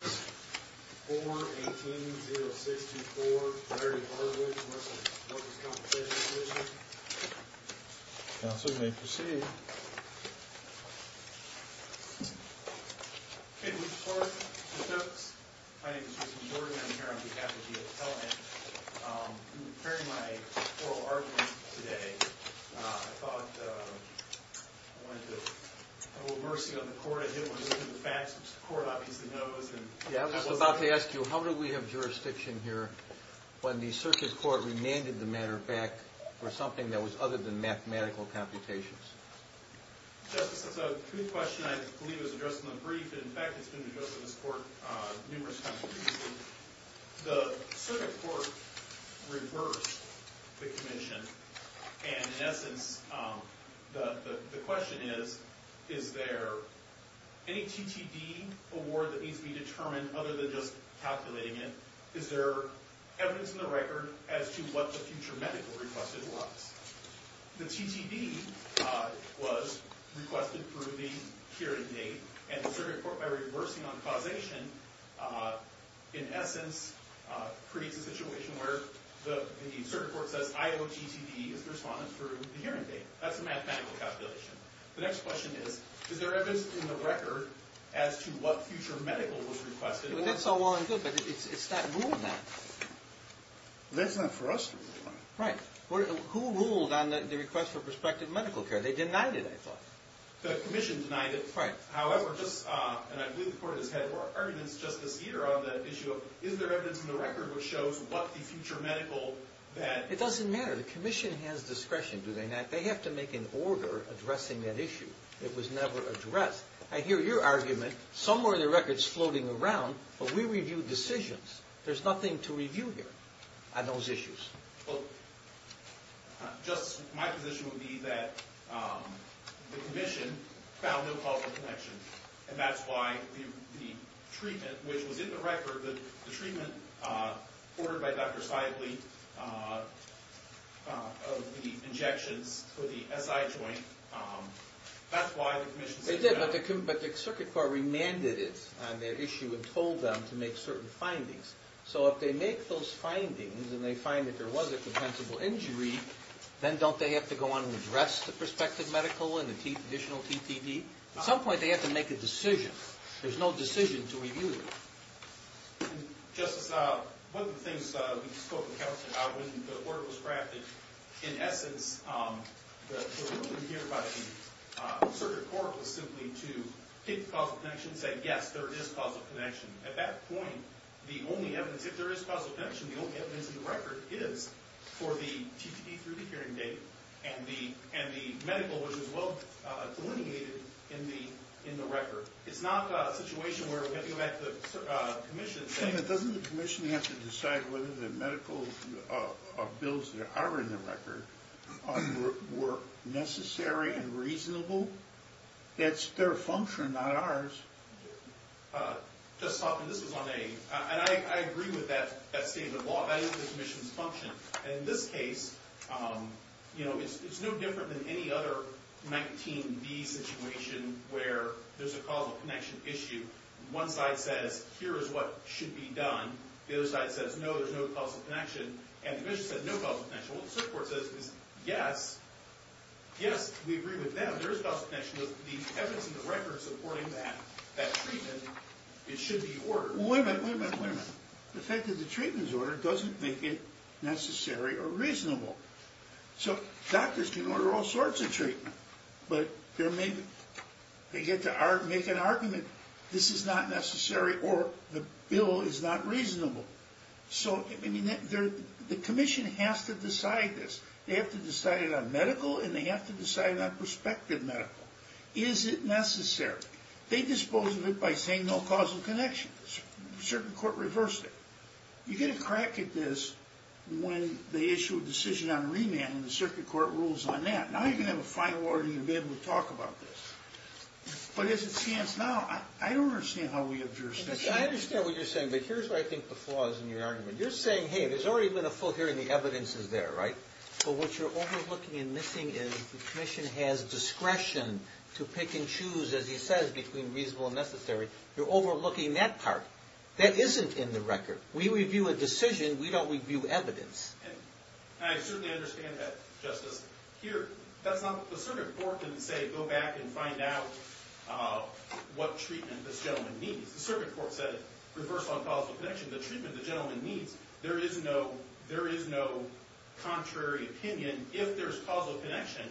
4-18-0624 Larry Hardwick, Workers' Compensation Commission Counsel may proceed Good morning, my name is Jason Jordan, I'm here on behalf of the appellant I'm preparing my oral argument today I thought I wanted to have a little mercy on the court I was about to ask you, how do we have jurisdiction here when the circuit court remanded the matter back for something that was other than mathematical computations Justice, it's a true question, I believe it was addressed in the brief and in fact it's been addressed in this court numerous times The circuit court reversed the commission and in essence the question is is there any TTD award that needs to be determined other than just calculating it is there evidence in the record as to what the future medical request was The TTD was requested through the hearing date and the circuit court by reversing on causation in essence creates a situation where the circuit court says IOTTD is the respondent for the hearing date that's a mathematical causation The next question is, is there evidence in the record as to what future medical was requested That's all well and good, but it's not ruling that That's not for us to rule Right, who ruled on the request for prospective medical care they denied it I thought The commission denied it However, and I believe the court has had more arguments just this year around the issue of is there evidence in the record which shows what the future medical that It doesn't matter, the commission has discretion they have to make an order addressing that issue it was never addressed I hear your argument, somewhere in the record it's floating around but we review decisions there's nothing to review here on those issues Well, just my position would be that the commission found no causal connection and that's why the treatment, which was in the record the treatment ordered by Dr. Seidle of the injections for the SI joint that's why the commission said no They did, but the circuit court remanded it on their issue and told them to make certain findings so if they make those findings and they find that there was a compensable injury then don't they have to go on and address the prospective medical and the additional TTD at some point they have to make a decision there's no decision to review Justice, one of the things we spoke with counsel about when the order was crafted in essence, what we hear about the circuit court was simply to take the causal connection and say yes, there is causal connection at that point, the only evidence if there is causal connection the only evidence in the record is for the TTD through the hearing date and the medical, which is well delineated in the record it's not a situation where we're getting back to the commission Doesn't the commission have to decide whether the medical bills that are in the record were necessary and reasonable? That's their function, not ours Justice Hoffman, this is on a and I agree with that statement of law that is the commission's function and in this case it's no different than any other 19B situation where there's a causal connection issue one side says, here is what should be done the other side says, no, there's no causal connection and the commission said no causal connection well the circuit court says, yes yes, we agree with them there is causal connection the evidence in the record supporting that that treatment, it should be ordered Wait a minute, wait a minute the fact that the treatment is ordered doesn't make it necessary or reasonable so doctors can order all sorts of treatment but they get to make an argument this is not necessary or the bill is not reasonable so the commission has to decide this they have to decide it on medical and they have to decide it on prospective medical Is it necessary? They dispose of it by saying no causal connection The circuit court reversed it You get a crack at this when they issue a decision on remand and the circuit court rules on that Now you can have a final order and you'll be able to talk about this But as it stands now I don't understand how we have jurisdiction I understand what you're saying but here's where I think the flaw is in your argument You're saying, hey, there's already been a full hearing the evidence is there, right? But what you're overlooking and missing is the commission has discretion to pick and choose, as he says between reasonable and necessary You're overlooking that part That isn't in the record We review a decision We don't review evidence I certainly understand that, Justice Here, the circuit court didn't say go back and find out what treatment this gentleman needs The circuit court said reverse on causal connection the treatment the gentleman needs there is no contrary opinion If there's causal connection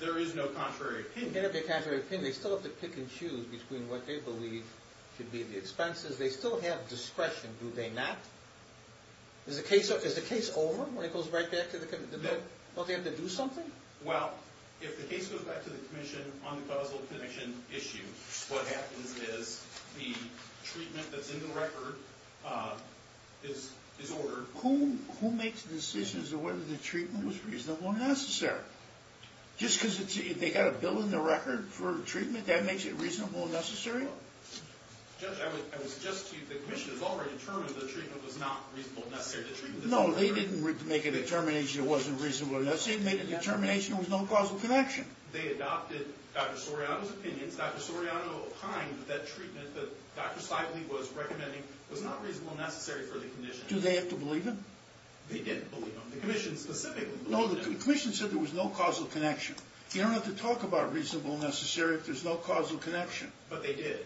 there is no contrary opinion Even if there's contrary opinion they still have to pick and choose between what they believe Should be the expenses They still have discretion Do they not? Is the case over? When it goes right back to the commission? Don't they have to do something? Well, if the case goes back to the commission on the causal connection issue what happens is the treatment that's in the record is ordered Who makes decisions as to whether the treatment was reasonable or necessary? Just because they got a bill in the record for treatment that makes it reasonable or necessary? Judge, I would suggest to you the commission has already determined the treatment was not reasonable or necessary No, they didn't make a determination it wasn't reasonable or necessary They made a determination there was no causal connection They adopted Dr. Soriano's opinions Dr. Soriano opined that treatment that Dr. Sively was recommending was not reasonable or necessary for the condition Do they have to believe him? They didn't believe him The commission specifically No, the commission said there was no causal connection You don't have to talk about reasonable or necessary if there's no causal connection But they did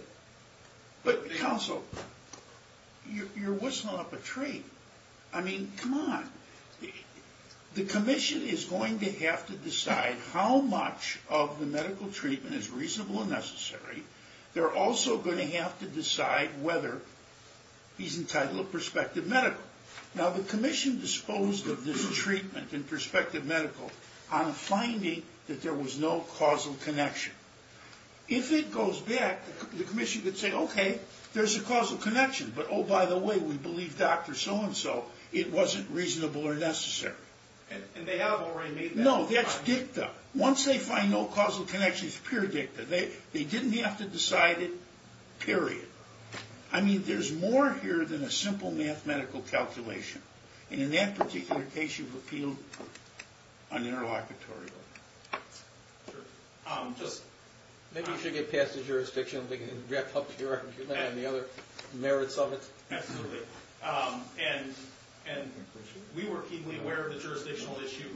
But, counsel You're whistling up a tree I mean, come on The commission is going to have to decide how much of the medical treatment is reasonable or necessary They're also going to have to decide whether he's entitled to prospective medical Now, the commission disposed of this treatment in prospective medical on finding that there was no causal connection If it goes back the commission could say okay, there's a causal connection but oh, by the way we believe Dr. So-and-so it wasn't reasonable or necessary And they have already made that No, that's dicta Once they find no causal connection it's pure dicta They didn't have to decide it Period I mean, there's more here than a simple mathematical calculation And in that particular case you've appealed an interlocutory one Sure Just Maybe you should get past the jurisdictional thing and get up to your and the other merits of it Absolutely And and we were keenly aware of the jurisdictional issue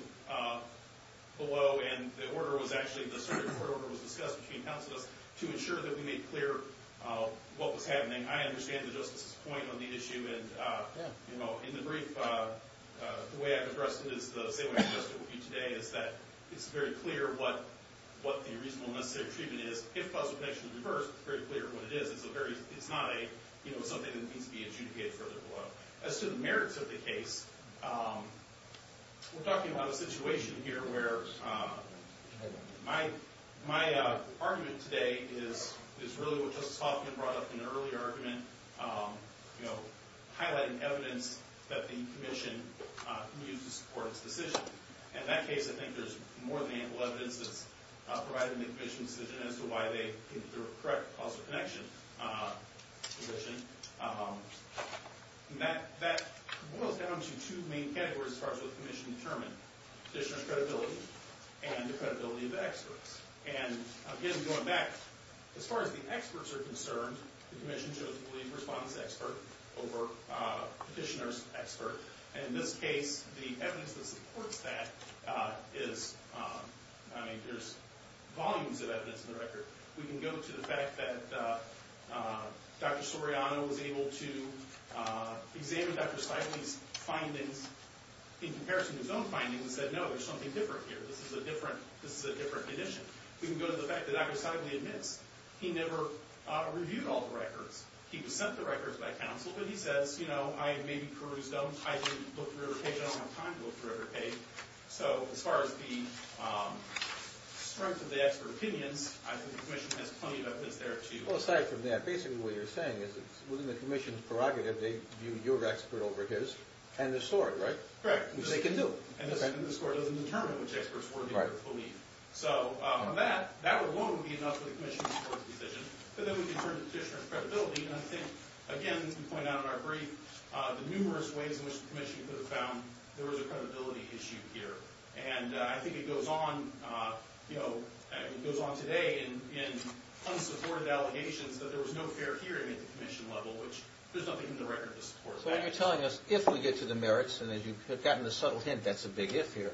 below and the order was actually the Supreme Court order was discussed between counsels to ensure that we made clear what was happening I understand the Justice's point on the issue and, you know, in the brief the way I've addressed it is the same way I've addressed it with you today is that it's very clear what what the reasonable necessary treatment is if causal connection occurs it's very clear what it is it's a very it's not a you know, something that needs to be adjudicated further below As to the merits of the case we're talking about a situation here where my my argument today is is really what Justice Hoffman brought up in an earlier argument you know highlighting evidence that the Commission can use to support its decision and in that case I think there's more than ample evidence that's provided in the Commission's decision as to why they think they're correct causal connection position that that boils down to two main categories as far as what the Commission determined Petitioner's credibility and the credibility of the experts and again, going back as far as the experts are concerned the Commission chose the lead response expert over Petitioner's expert and in this case the evidence that supports that is I mean, there's volumes of evidence in the record we can go to the fact that Dr. Soriano was able to examine Dr. Seidley's findings in comparison to his own findings and said, no, there's something different here this is a different this is a different condition we can go to the fact that Dr. Seidley admits he never reviewed all the records he was sent the records by counsel but he says, you know I maybe perused them I didn't look through every page I don't have time to look through every page so, as far as the strength of the expert opinions I think the Commission has plenty of evidence there to Well, aside from that basically what you're saying is within the Commission's prerogative they view your expert over his and the story, right? Correct Which they can do and the story doesn't determine which experts were Right So, that that alone would be enough for the Commission to support the decision but then we can turn to Petitioner's credibility and I think again, as we point out in our brief the numerous ways in which the Commission could have found there was a credibility issue here and I think it goes on you know it goes on today in unsupported allegations that there was no fair hearing at the Commission level which there's nothing in the record to support that So, you're telling us if we get to the merits and as you've gotten the subtle hint that's a big if here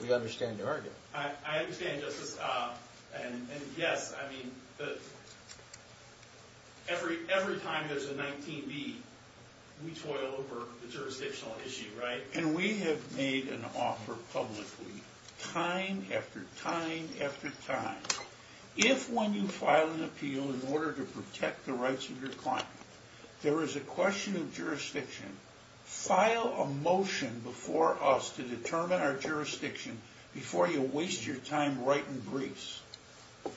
we understand your argument I understand, Justice and yes, I mean every time there's a 19B we toil over the jurisdictional issue, right? And we have made an offer publicly time after time after time if when you file an appeal in order to protect the rights of your client there is a question of jurisdiction file a motion before us to determine our jurisdiction before you waste your time writing briefs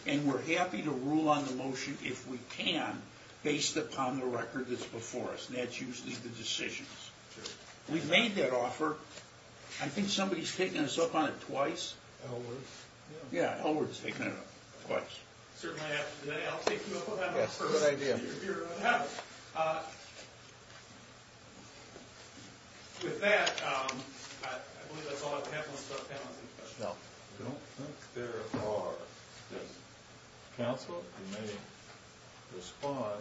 and we're happy to rule on the motion if we can based upon the record that's before us and that's usually the decisions We've made that offer I think somebody's taken us up on it twice Elwood? Yeah, Elwood's taken it up twice Certainly, I'll take you up on that Yes, good idea With that I believe that's all I have unless you have any questions No I don't think there are Counsel, you may respond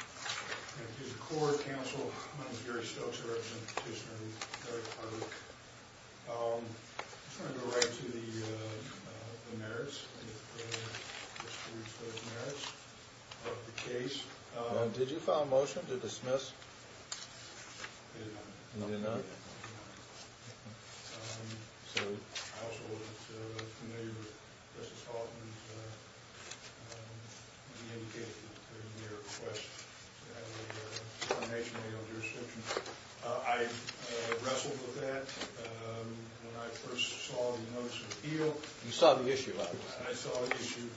Thank you, the Court, Counsel My name's Gary Stokes I represent the petitioner Larry Hardwick I just want to go right to the the merits if you wish to reach those merits of the case Did you file a motion to dismiss? I did not You did not? I did not I also was familiar with Justice Hoffman's indicating in your request that we have a formation of legal jurisdiction I wrestled with that when I first saw the notice of appeal You saw the issue, I understand I saw the issue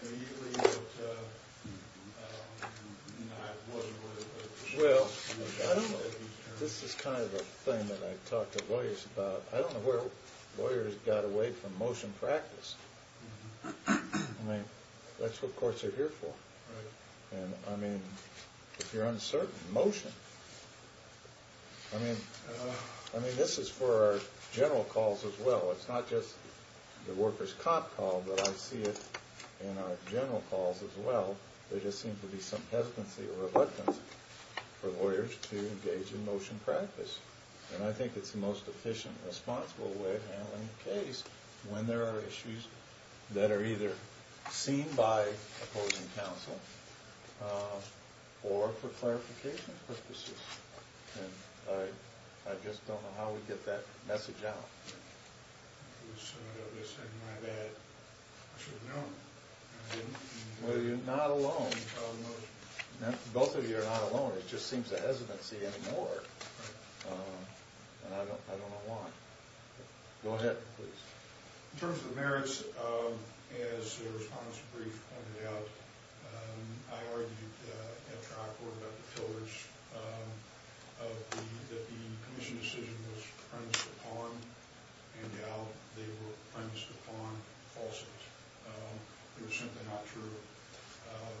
immediately, but I wasn't worried about it Well, I don't know This is kind of a thing that I talk to lawyers about I don't know where lawyers got away from motion practice I mean, that's what courts are here for Right And, I mean, if you're uncertain motion I mean, this is for our general calls as well It's not just the workers' comp call but I see it in our general calls as well There just seems to be some hesitancy or reluctance for lawyers to engage in motion practice And I think it's the most efficient and responsible way of handling a case when there are issues that are either seen by opposing counsel or for clarification purposes And I just don't know how we get that message out So I guess I might add I should know Well, you're not alone Both of you are not alone It just seems a hesitancy anymore And I don't know why Go ahead, please In terms of the merits as the respondent's brief pointed out I argued at trial court about the pillars that the commission's decision was premised upon and now they were premised upon falsities They're simply not true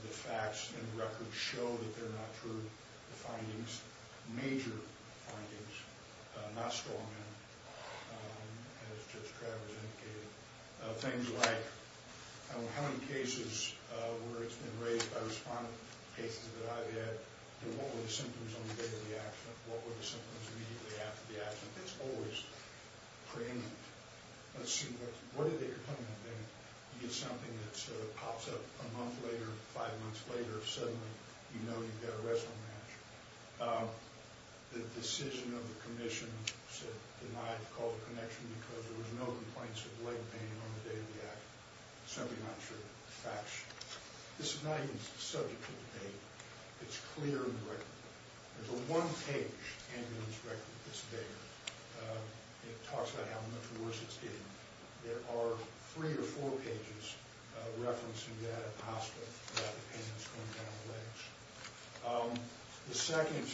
The facts and the records show that they're not true The findings, major findings not strong enough as Judge Travers indicated Things like how many cases where it's been raised by respondent cases that I've had and what were the symptoms on the day of the accident What were the symptoms immediately after the accident It's always preeminent Let's see, what is it you're coming up with You get something that sort of pops up a month later, five months later suddenly you know you've got a wrestling match The decision of the commission denied to call the connection because there were no complaints of leg pain on the day of the accident It's simply not true This is not even subject to debate It's clear in the record There's a one-page ambulance record that's there It talks about how much worse it's getting There are three or four pages referencing that hospital that the pain was coming down the legs The second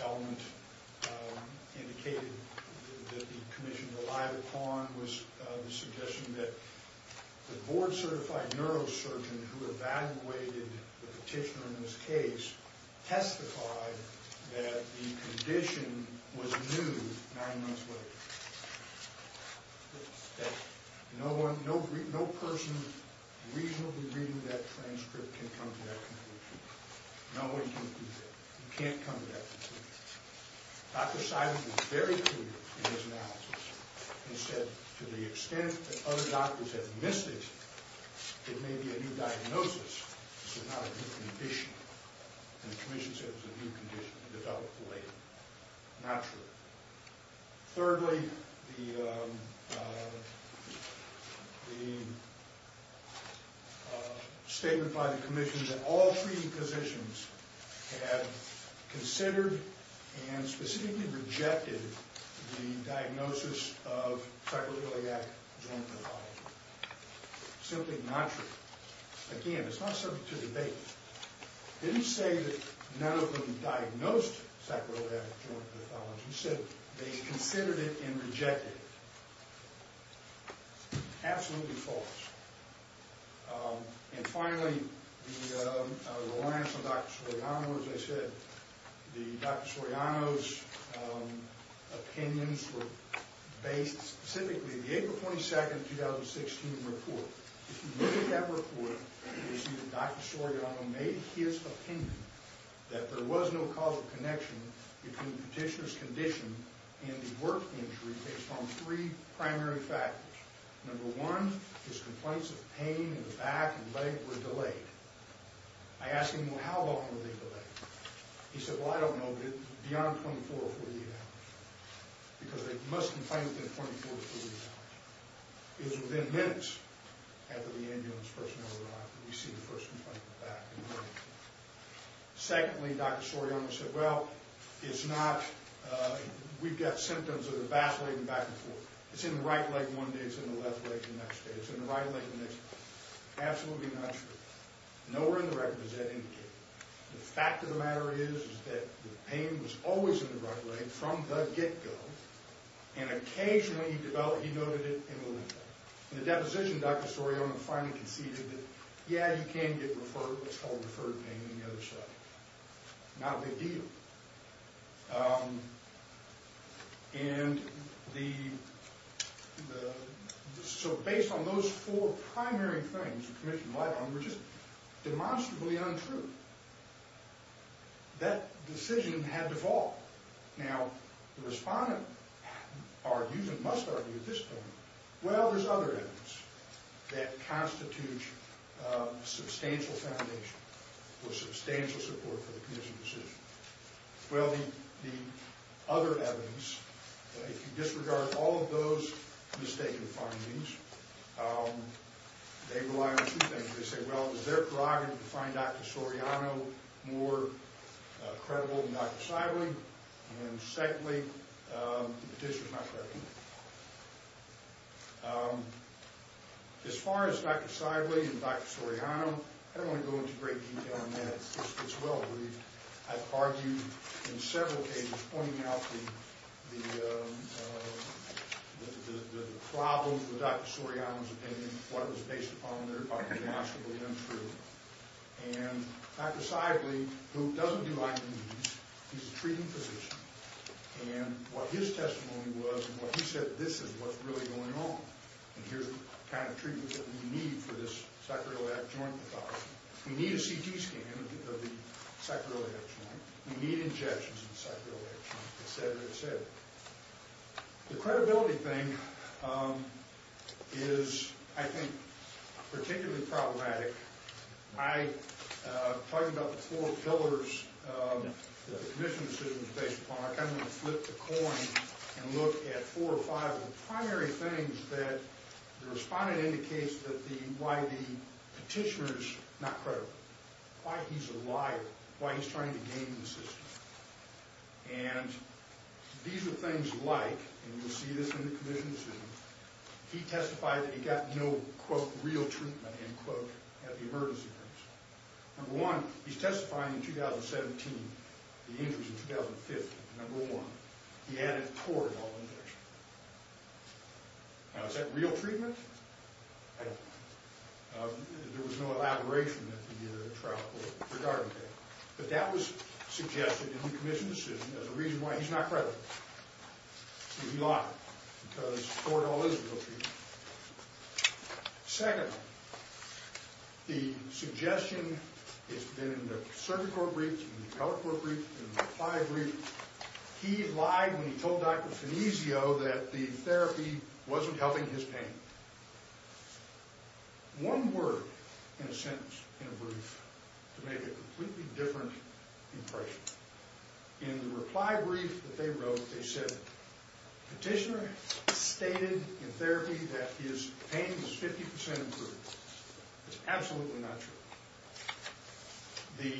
element indicated that the commission relied upon was the suggestion that the board-certified neurosurgeon who evaluated the petitioner in this case testified that the condition was new nine months later No person reasonably reading that transcript can come to that conclusion No one can do that You can't come to that conclusion Dr. Simon was very clear in his analysis He said to the extent that other doctors have missed it it may be a new diagnosis not a new condition The commission said it was a new condition developed later Not true Thirdly the the the statement by the commission that all treating physicians have considered and specifically rejected the diagnosis of psychoreliac joint pathology Simply not true Again, it's not subject to debate Didn't say that none of them diagnosed psychoreliac joint pathology He said they considered it and rejected it Absolutely false And finally the reliance on Dr. Soriano as I said Dr. Soriano's opinions were based specifically on the April 22, 2016 report If you look at that report you see that Dr. Soriano made his opinion that there was no causal connection between the petitioner's condition and the work injury based on three primary factors Number one his complaints of pain in the back and leg were delayed I asked him how long were they delayed He said well I don't know beyond 24 or 48 hours because they must complain within 24 or 48 hours It was within minutes after the ambulance personnel arrived that we see the first complaint in the back and leg Secondly Dr. Soriano said well it's not we've got symptoms of the back leg and back and forth It's in the right leg one day, it's in the left leg the next day It's in the right leg the next day Absolutely not true Nowhere in the record does that indicate The fact of the matter is that the pain was always in the right leg from the get-go and occasionally he noted it in the limbo In the deposition, Dr. Soriano finally conceded that yeah you can get referred what's called referred pain in the other side Not a big deal And the So based on those four primary things the commission lied on were just demonstrably untrue That decision had to fall Now the respondent argues and must argue at this point well there's other evidence that constitutes substantial foundation or substantial support for the commission's decision Well the other evidence if you disregard all of those mistaken findings they rely on two things they say well is their prerogative to find Dr. Soriano more credible than Dr. Seidling and secondly the petition is not credible As far as Dr. Seidling and Dr. Soriano I don't want to go into great detail on that I've argued in several cases pointing out the the problems with Dr. Soriano's opinion what was based upon there and Dr. Seidling who doesn't do IVs he's a treating physician and what his testimony was and what he said this is what's really going on and here's the kind of treatment that we need for this sacroiliac joint pathology we need a CT scan of the sacroiliac joint we need injections of the sacroiliac joint etc. etc. The credibility thing is I think particularly problematic I talked about the four pillars the commission's decision is based upon I'm going to flip the coin and look at four or five primary things that the respondent indicates why the petitioner is not credible why he's a liar why he's trying to game the system and these are things like and you'll see this in the commission's decision he testified that he got no quote real treatment end quote at the emergency rooms number one, he's testifying in 2017 the injuries in 2015 number one, he added toroidal injection now is that real treatment? I don't know there was no elaboration at the trial court regarding that but that was suggested in the commission's decision as a reason why he's not credible he's a liar because toroidal is real treatment second the suggestion has been in the surgical brief, the telecourt brief the reply brief he lied when he told Dr. Finesio that the therapy wasn't helping his pain one word in a sentence, in a brief to make a completely different impression in the reply brief that they wrote, they said petitioner stated in therapy that his pain was 50% improved it's absolutely not true the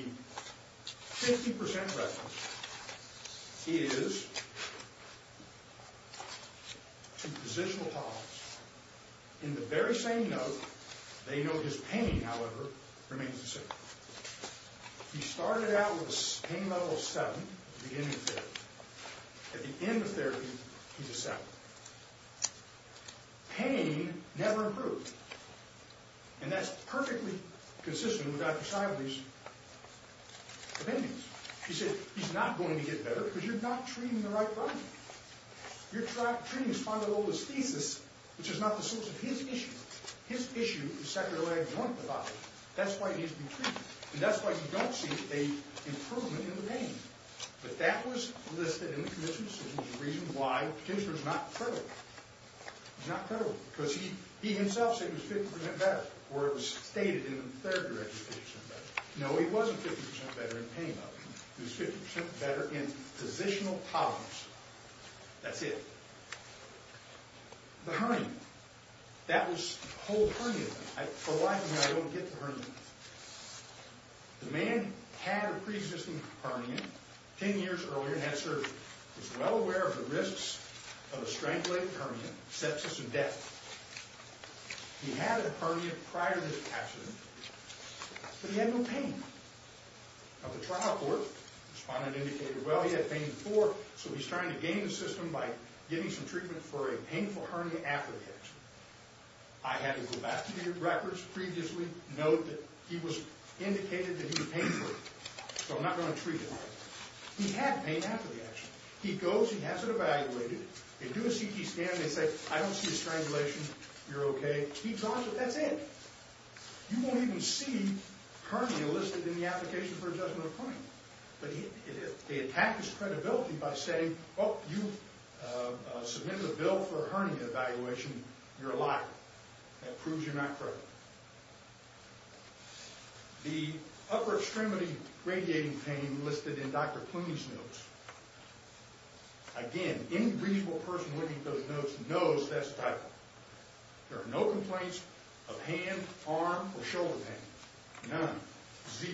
50% reference is to positional tolerance, in the very same note, they know his pain however, remains the same he started out with pain level 7 at the beginning of therapy at the end of therapy, he's a 7 pain and never improved and that's perfectly consistent with Dr. Shively's opinions he said, he's not going to get better because you're not treating the right body you're treating his spondylolisthesis which is not the source of his issue his issue is sacroiliac joint that's why he needs to be treated and that's why you don't see an improvement in the pain but that was listed in the commission's decision as a reason why the petitioner is not credible he's not credible because he himself said he was 50% better or it was stated in the therapy that he was 50% better no, he wasn't 50% better in pain level he was 50% better in positional tolerance that's it the hernia that was the whole hernia thing for a lot of me, I don't get the hernia the man had a pre-existing hernia 10 years earlier and had surgery was well aware of the risks of a strangulated hernia sepsis and death he had a hernia prior to this accident but he had no pain now the trial court responded and indicated well he had pain before, so he's trying to gain the system by getting some treatment for a painful hernia after the accident I had to go back to the records previously, note that he was indicated that he was painful so I'm not going to treat him he had pain after the accident he goes, he has it evaluated they do a CT scan, they say I don't see a strangulation, you're okay he draws it, that's it you won't even see hernia listed in the application for adjustment of pain they attack his credibility by saying you submitted a bill for a hernia evaluation you're a liar, that proves you're not credible the upper extremity radiating pain listed in Dr. Clooney's notes again, any reasonable person looking at those notes knows that's a typo there are no complaints of hand, arm, or shoulder pain, none zero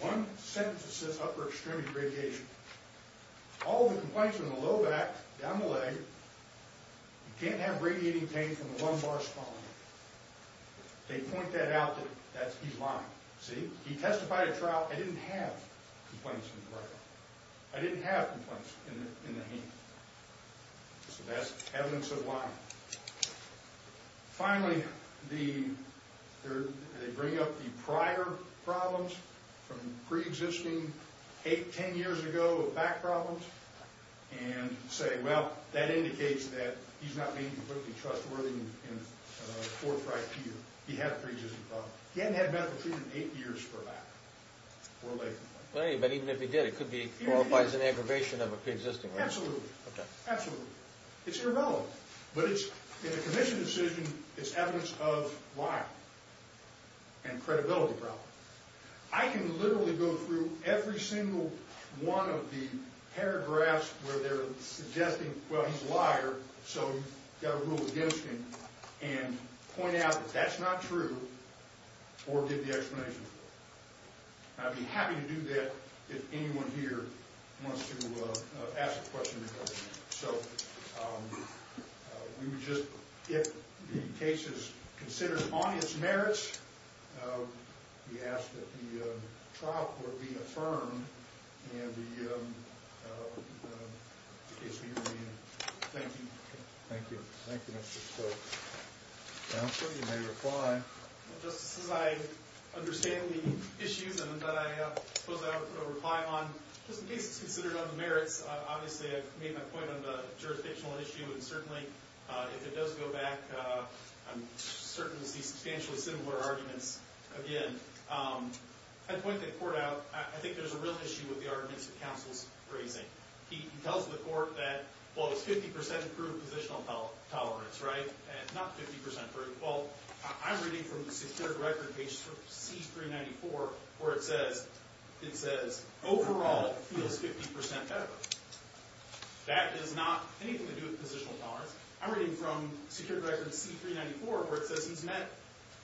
one sentence that says upper extremity radiation all the complaints are in the low back, down the leg you can't have radiating pain from the lumbar spine they point that out he's lying he testified at trial, I didn't have complaints from the right arm I didn't have complaints in the hand so that's evidence of lying finally they bring up the prior problems from pre-existing eight, ten years ago, back problems and say, well that indicates that he's not being completely trustworthy he had a pre-existing problem he hadn't had medical treatment in eight years for that or later but even if he did, it could qualify as an aggravation of a pre-existing problem absolutely, it's irrelevant but in a commission decision it's evidence of lying and credibility problems every single one of the paragraphs where they're suggesting, well he's a liar so you've got to rule against him and point out that that's not true or give the explanation I'd be happy to do that if anyone here wants to ask a question so we would just, if the case is considered on its merits we ask that the trial court be affirmed and the case be reviewed thank you thank you Mr. Stokes I'm sure you may reply just as I understand the issues that I suppose I ought to put a reply on just in case it's considered on the merits obviously I've made my point on the jurisdictional issue and certainly if it does go back I'm certain to see substantially similar arguments again I'd point the court out I think there's a real issue with the arguments the counsel's raising he tells the court that, well it's 50% approved positional tolerance not 50% approved I'm reading from the secured record page C394 where it says overall feels 50% better that does not anything to do with positional tolerance I'm reading from secured record C394 where it says he's met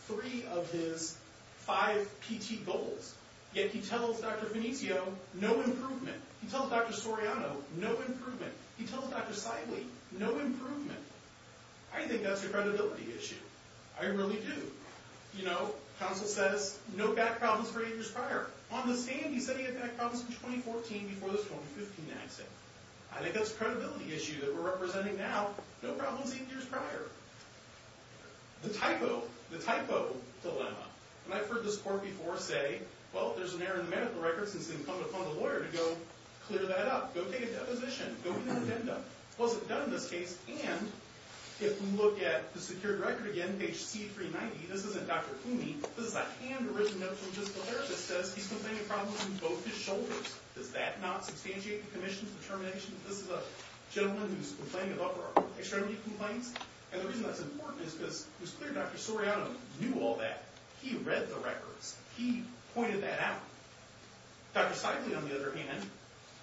three of his five PT goals yet he tells Dr. Fenicio no improvement, he tells Dr. Soriano no improvement, he tells Dr. Seible no improvement I think that's a credibility issue I really do you know, counsel says no back problems for eight years prior, on the stand he said he had back problems in 2014 before the 2015 accident I think that's a credibility issue that we're representing now no problems eight years prior the typo the typo dilemma and I've heard this court before say well, if there's an error in the medical record it's incumbent upon the lawyer to go clear that up go take a deposition, go get an agenda it wasn't done in this case, and if we look at the secured record again, page C390, this isn't Dr. Foomey, this is a hand written note from a physical therapist that says he's complaining does that not substantiate the commission's determination that this is a gentleman who's complaining of upper extremity complaints and the reason that's important is because it was clear Dr. Soriano knew all that he read the records, he pointed that out Dr. Seible, on the other hand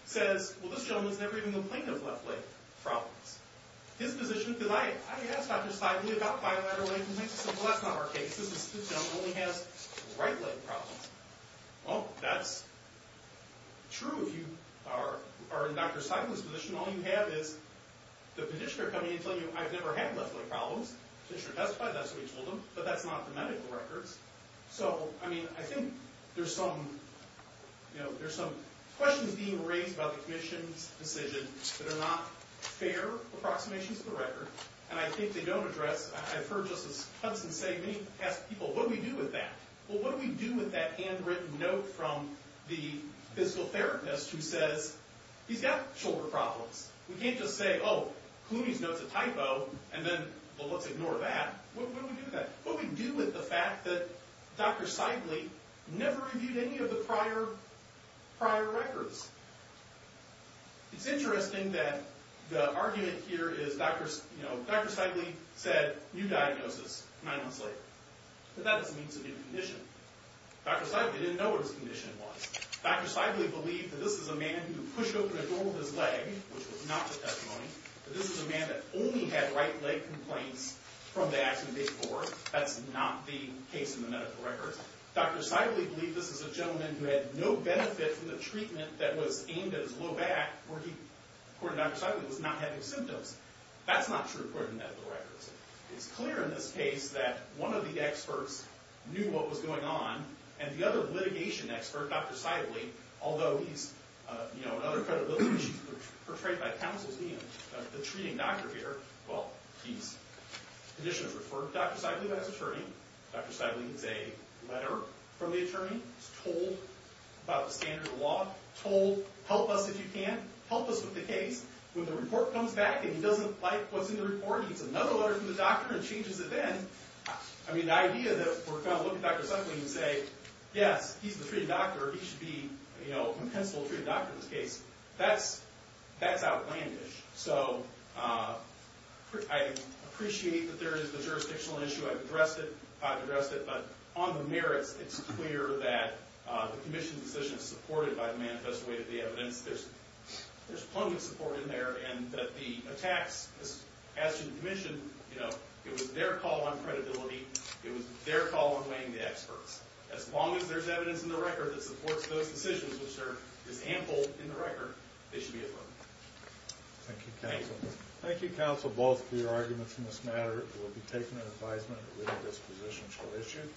says well, this gentleman's never even complained of left leg problems his position, because I asked Dr. Seible about bilateral leg complaints, he said well that's not our case this gentleman only has right leg problems well, that's true if you are in Dr. Seible's position all you have is the petitioner coming and telling you I've never had left leg problems since you're testified, that's what you told him but that's not the medical records so, I mean, I think there's some you know, there's some questions being raised about the commission's decision that are not fair approximations of the record and I think they don't address, I've heard Justice Hudson say, many people what do we do with that? Well, what do we do with that hand written note from the physical therapist who says he's got shoulder problems we can't just say, oh, Clooney's note's a typo, and then, well let's ignore that, what do we do with that? What do we do with the fact that Dr. Seible never reviewed any of the prior records it's interesting that the argument here is Dr. Seible said, new diagnosis nine months later, but that doesn't mean it's a new condition, Dr. Seible didn't know what his condition was Dr. Seible believed that this is a man who pushed open a door with his leg which was not the testimony, but this is a man that only had right leg complaints from the accident before that's not the case in the medical records Dr. Seible believed this is a gentleman who had no benefit from the treatment that was aimed at his low back where he, according to Dr. Seible, was not having symptoms, that's not true according to the medical records, it's clear in this case that one of the experts knew what was going on and the other litigation expert, Dr. Seible although he's in other credibility issues portrayed by counsels, being the treating doctor here, well, he's the condition is referred to Dr. Seible as attorney, Dr. Seible needs a letter from the attorney told about the standard of law told, help us if you can help us with the case, when the report comes back and he doesn't like what's in the report he needs another letter from the doctor and changes it then, I mean the idea that we're going to look at Dr. Seible and say yes, he's the treating doctor he should be, you know, a pencil treating doctor in this case, that's outlandish, so I appreciate that there is the jurisdictional issue I've addressed it, but on the merits, it's clear that the commission's decision is supported by the manifest way of the evidence there's plenty of support in there and that the attacks as to the commission, you know, it was their call on credibility it was their call on weighing the experts as long as there's evidence in the record that supports those decisions, which there is ample in the record, they should be affirmed Thank you, counsel Thank you, counsel, both for your arguments in this matter, we'll be taking an advisement to leave this position for issue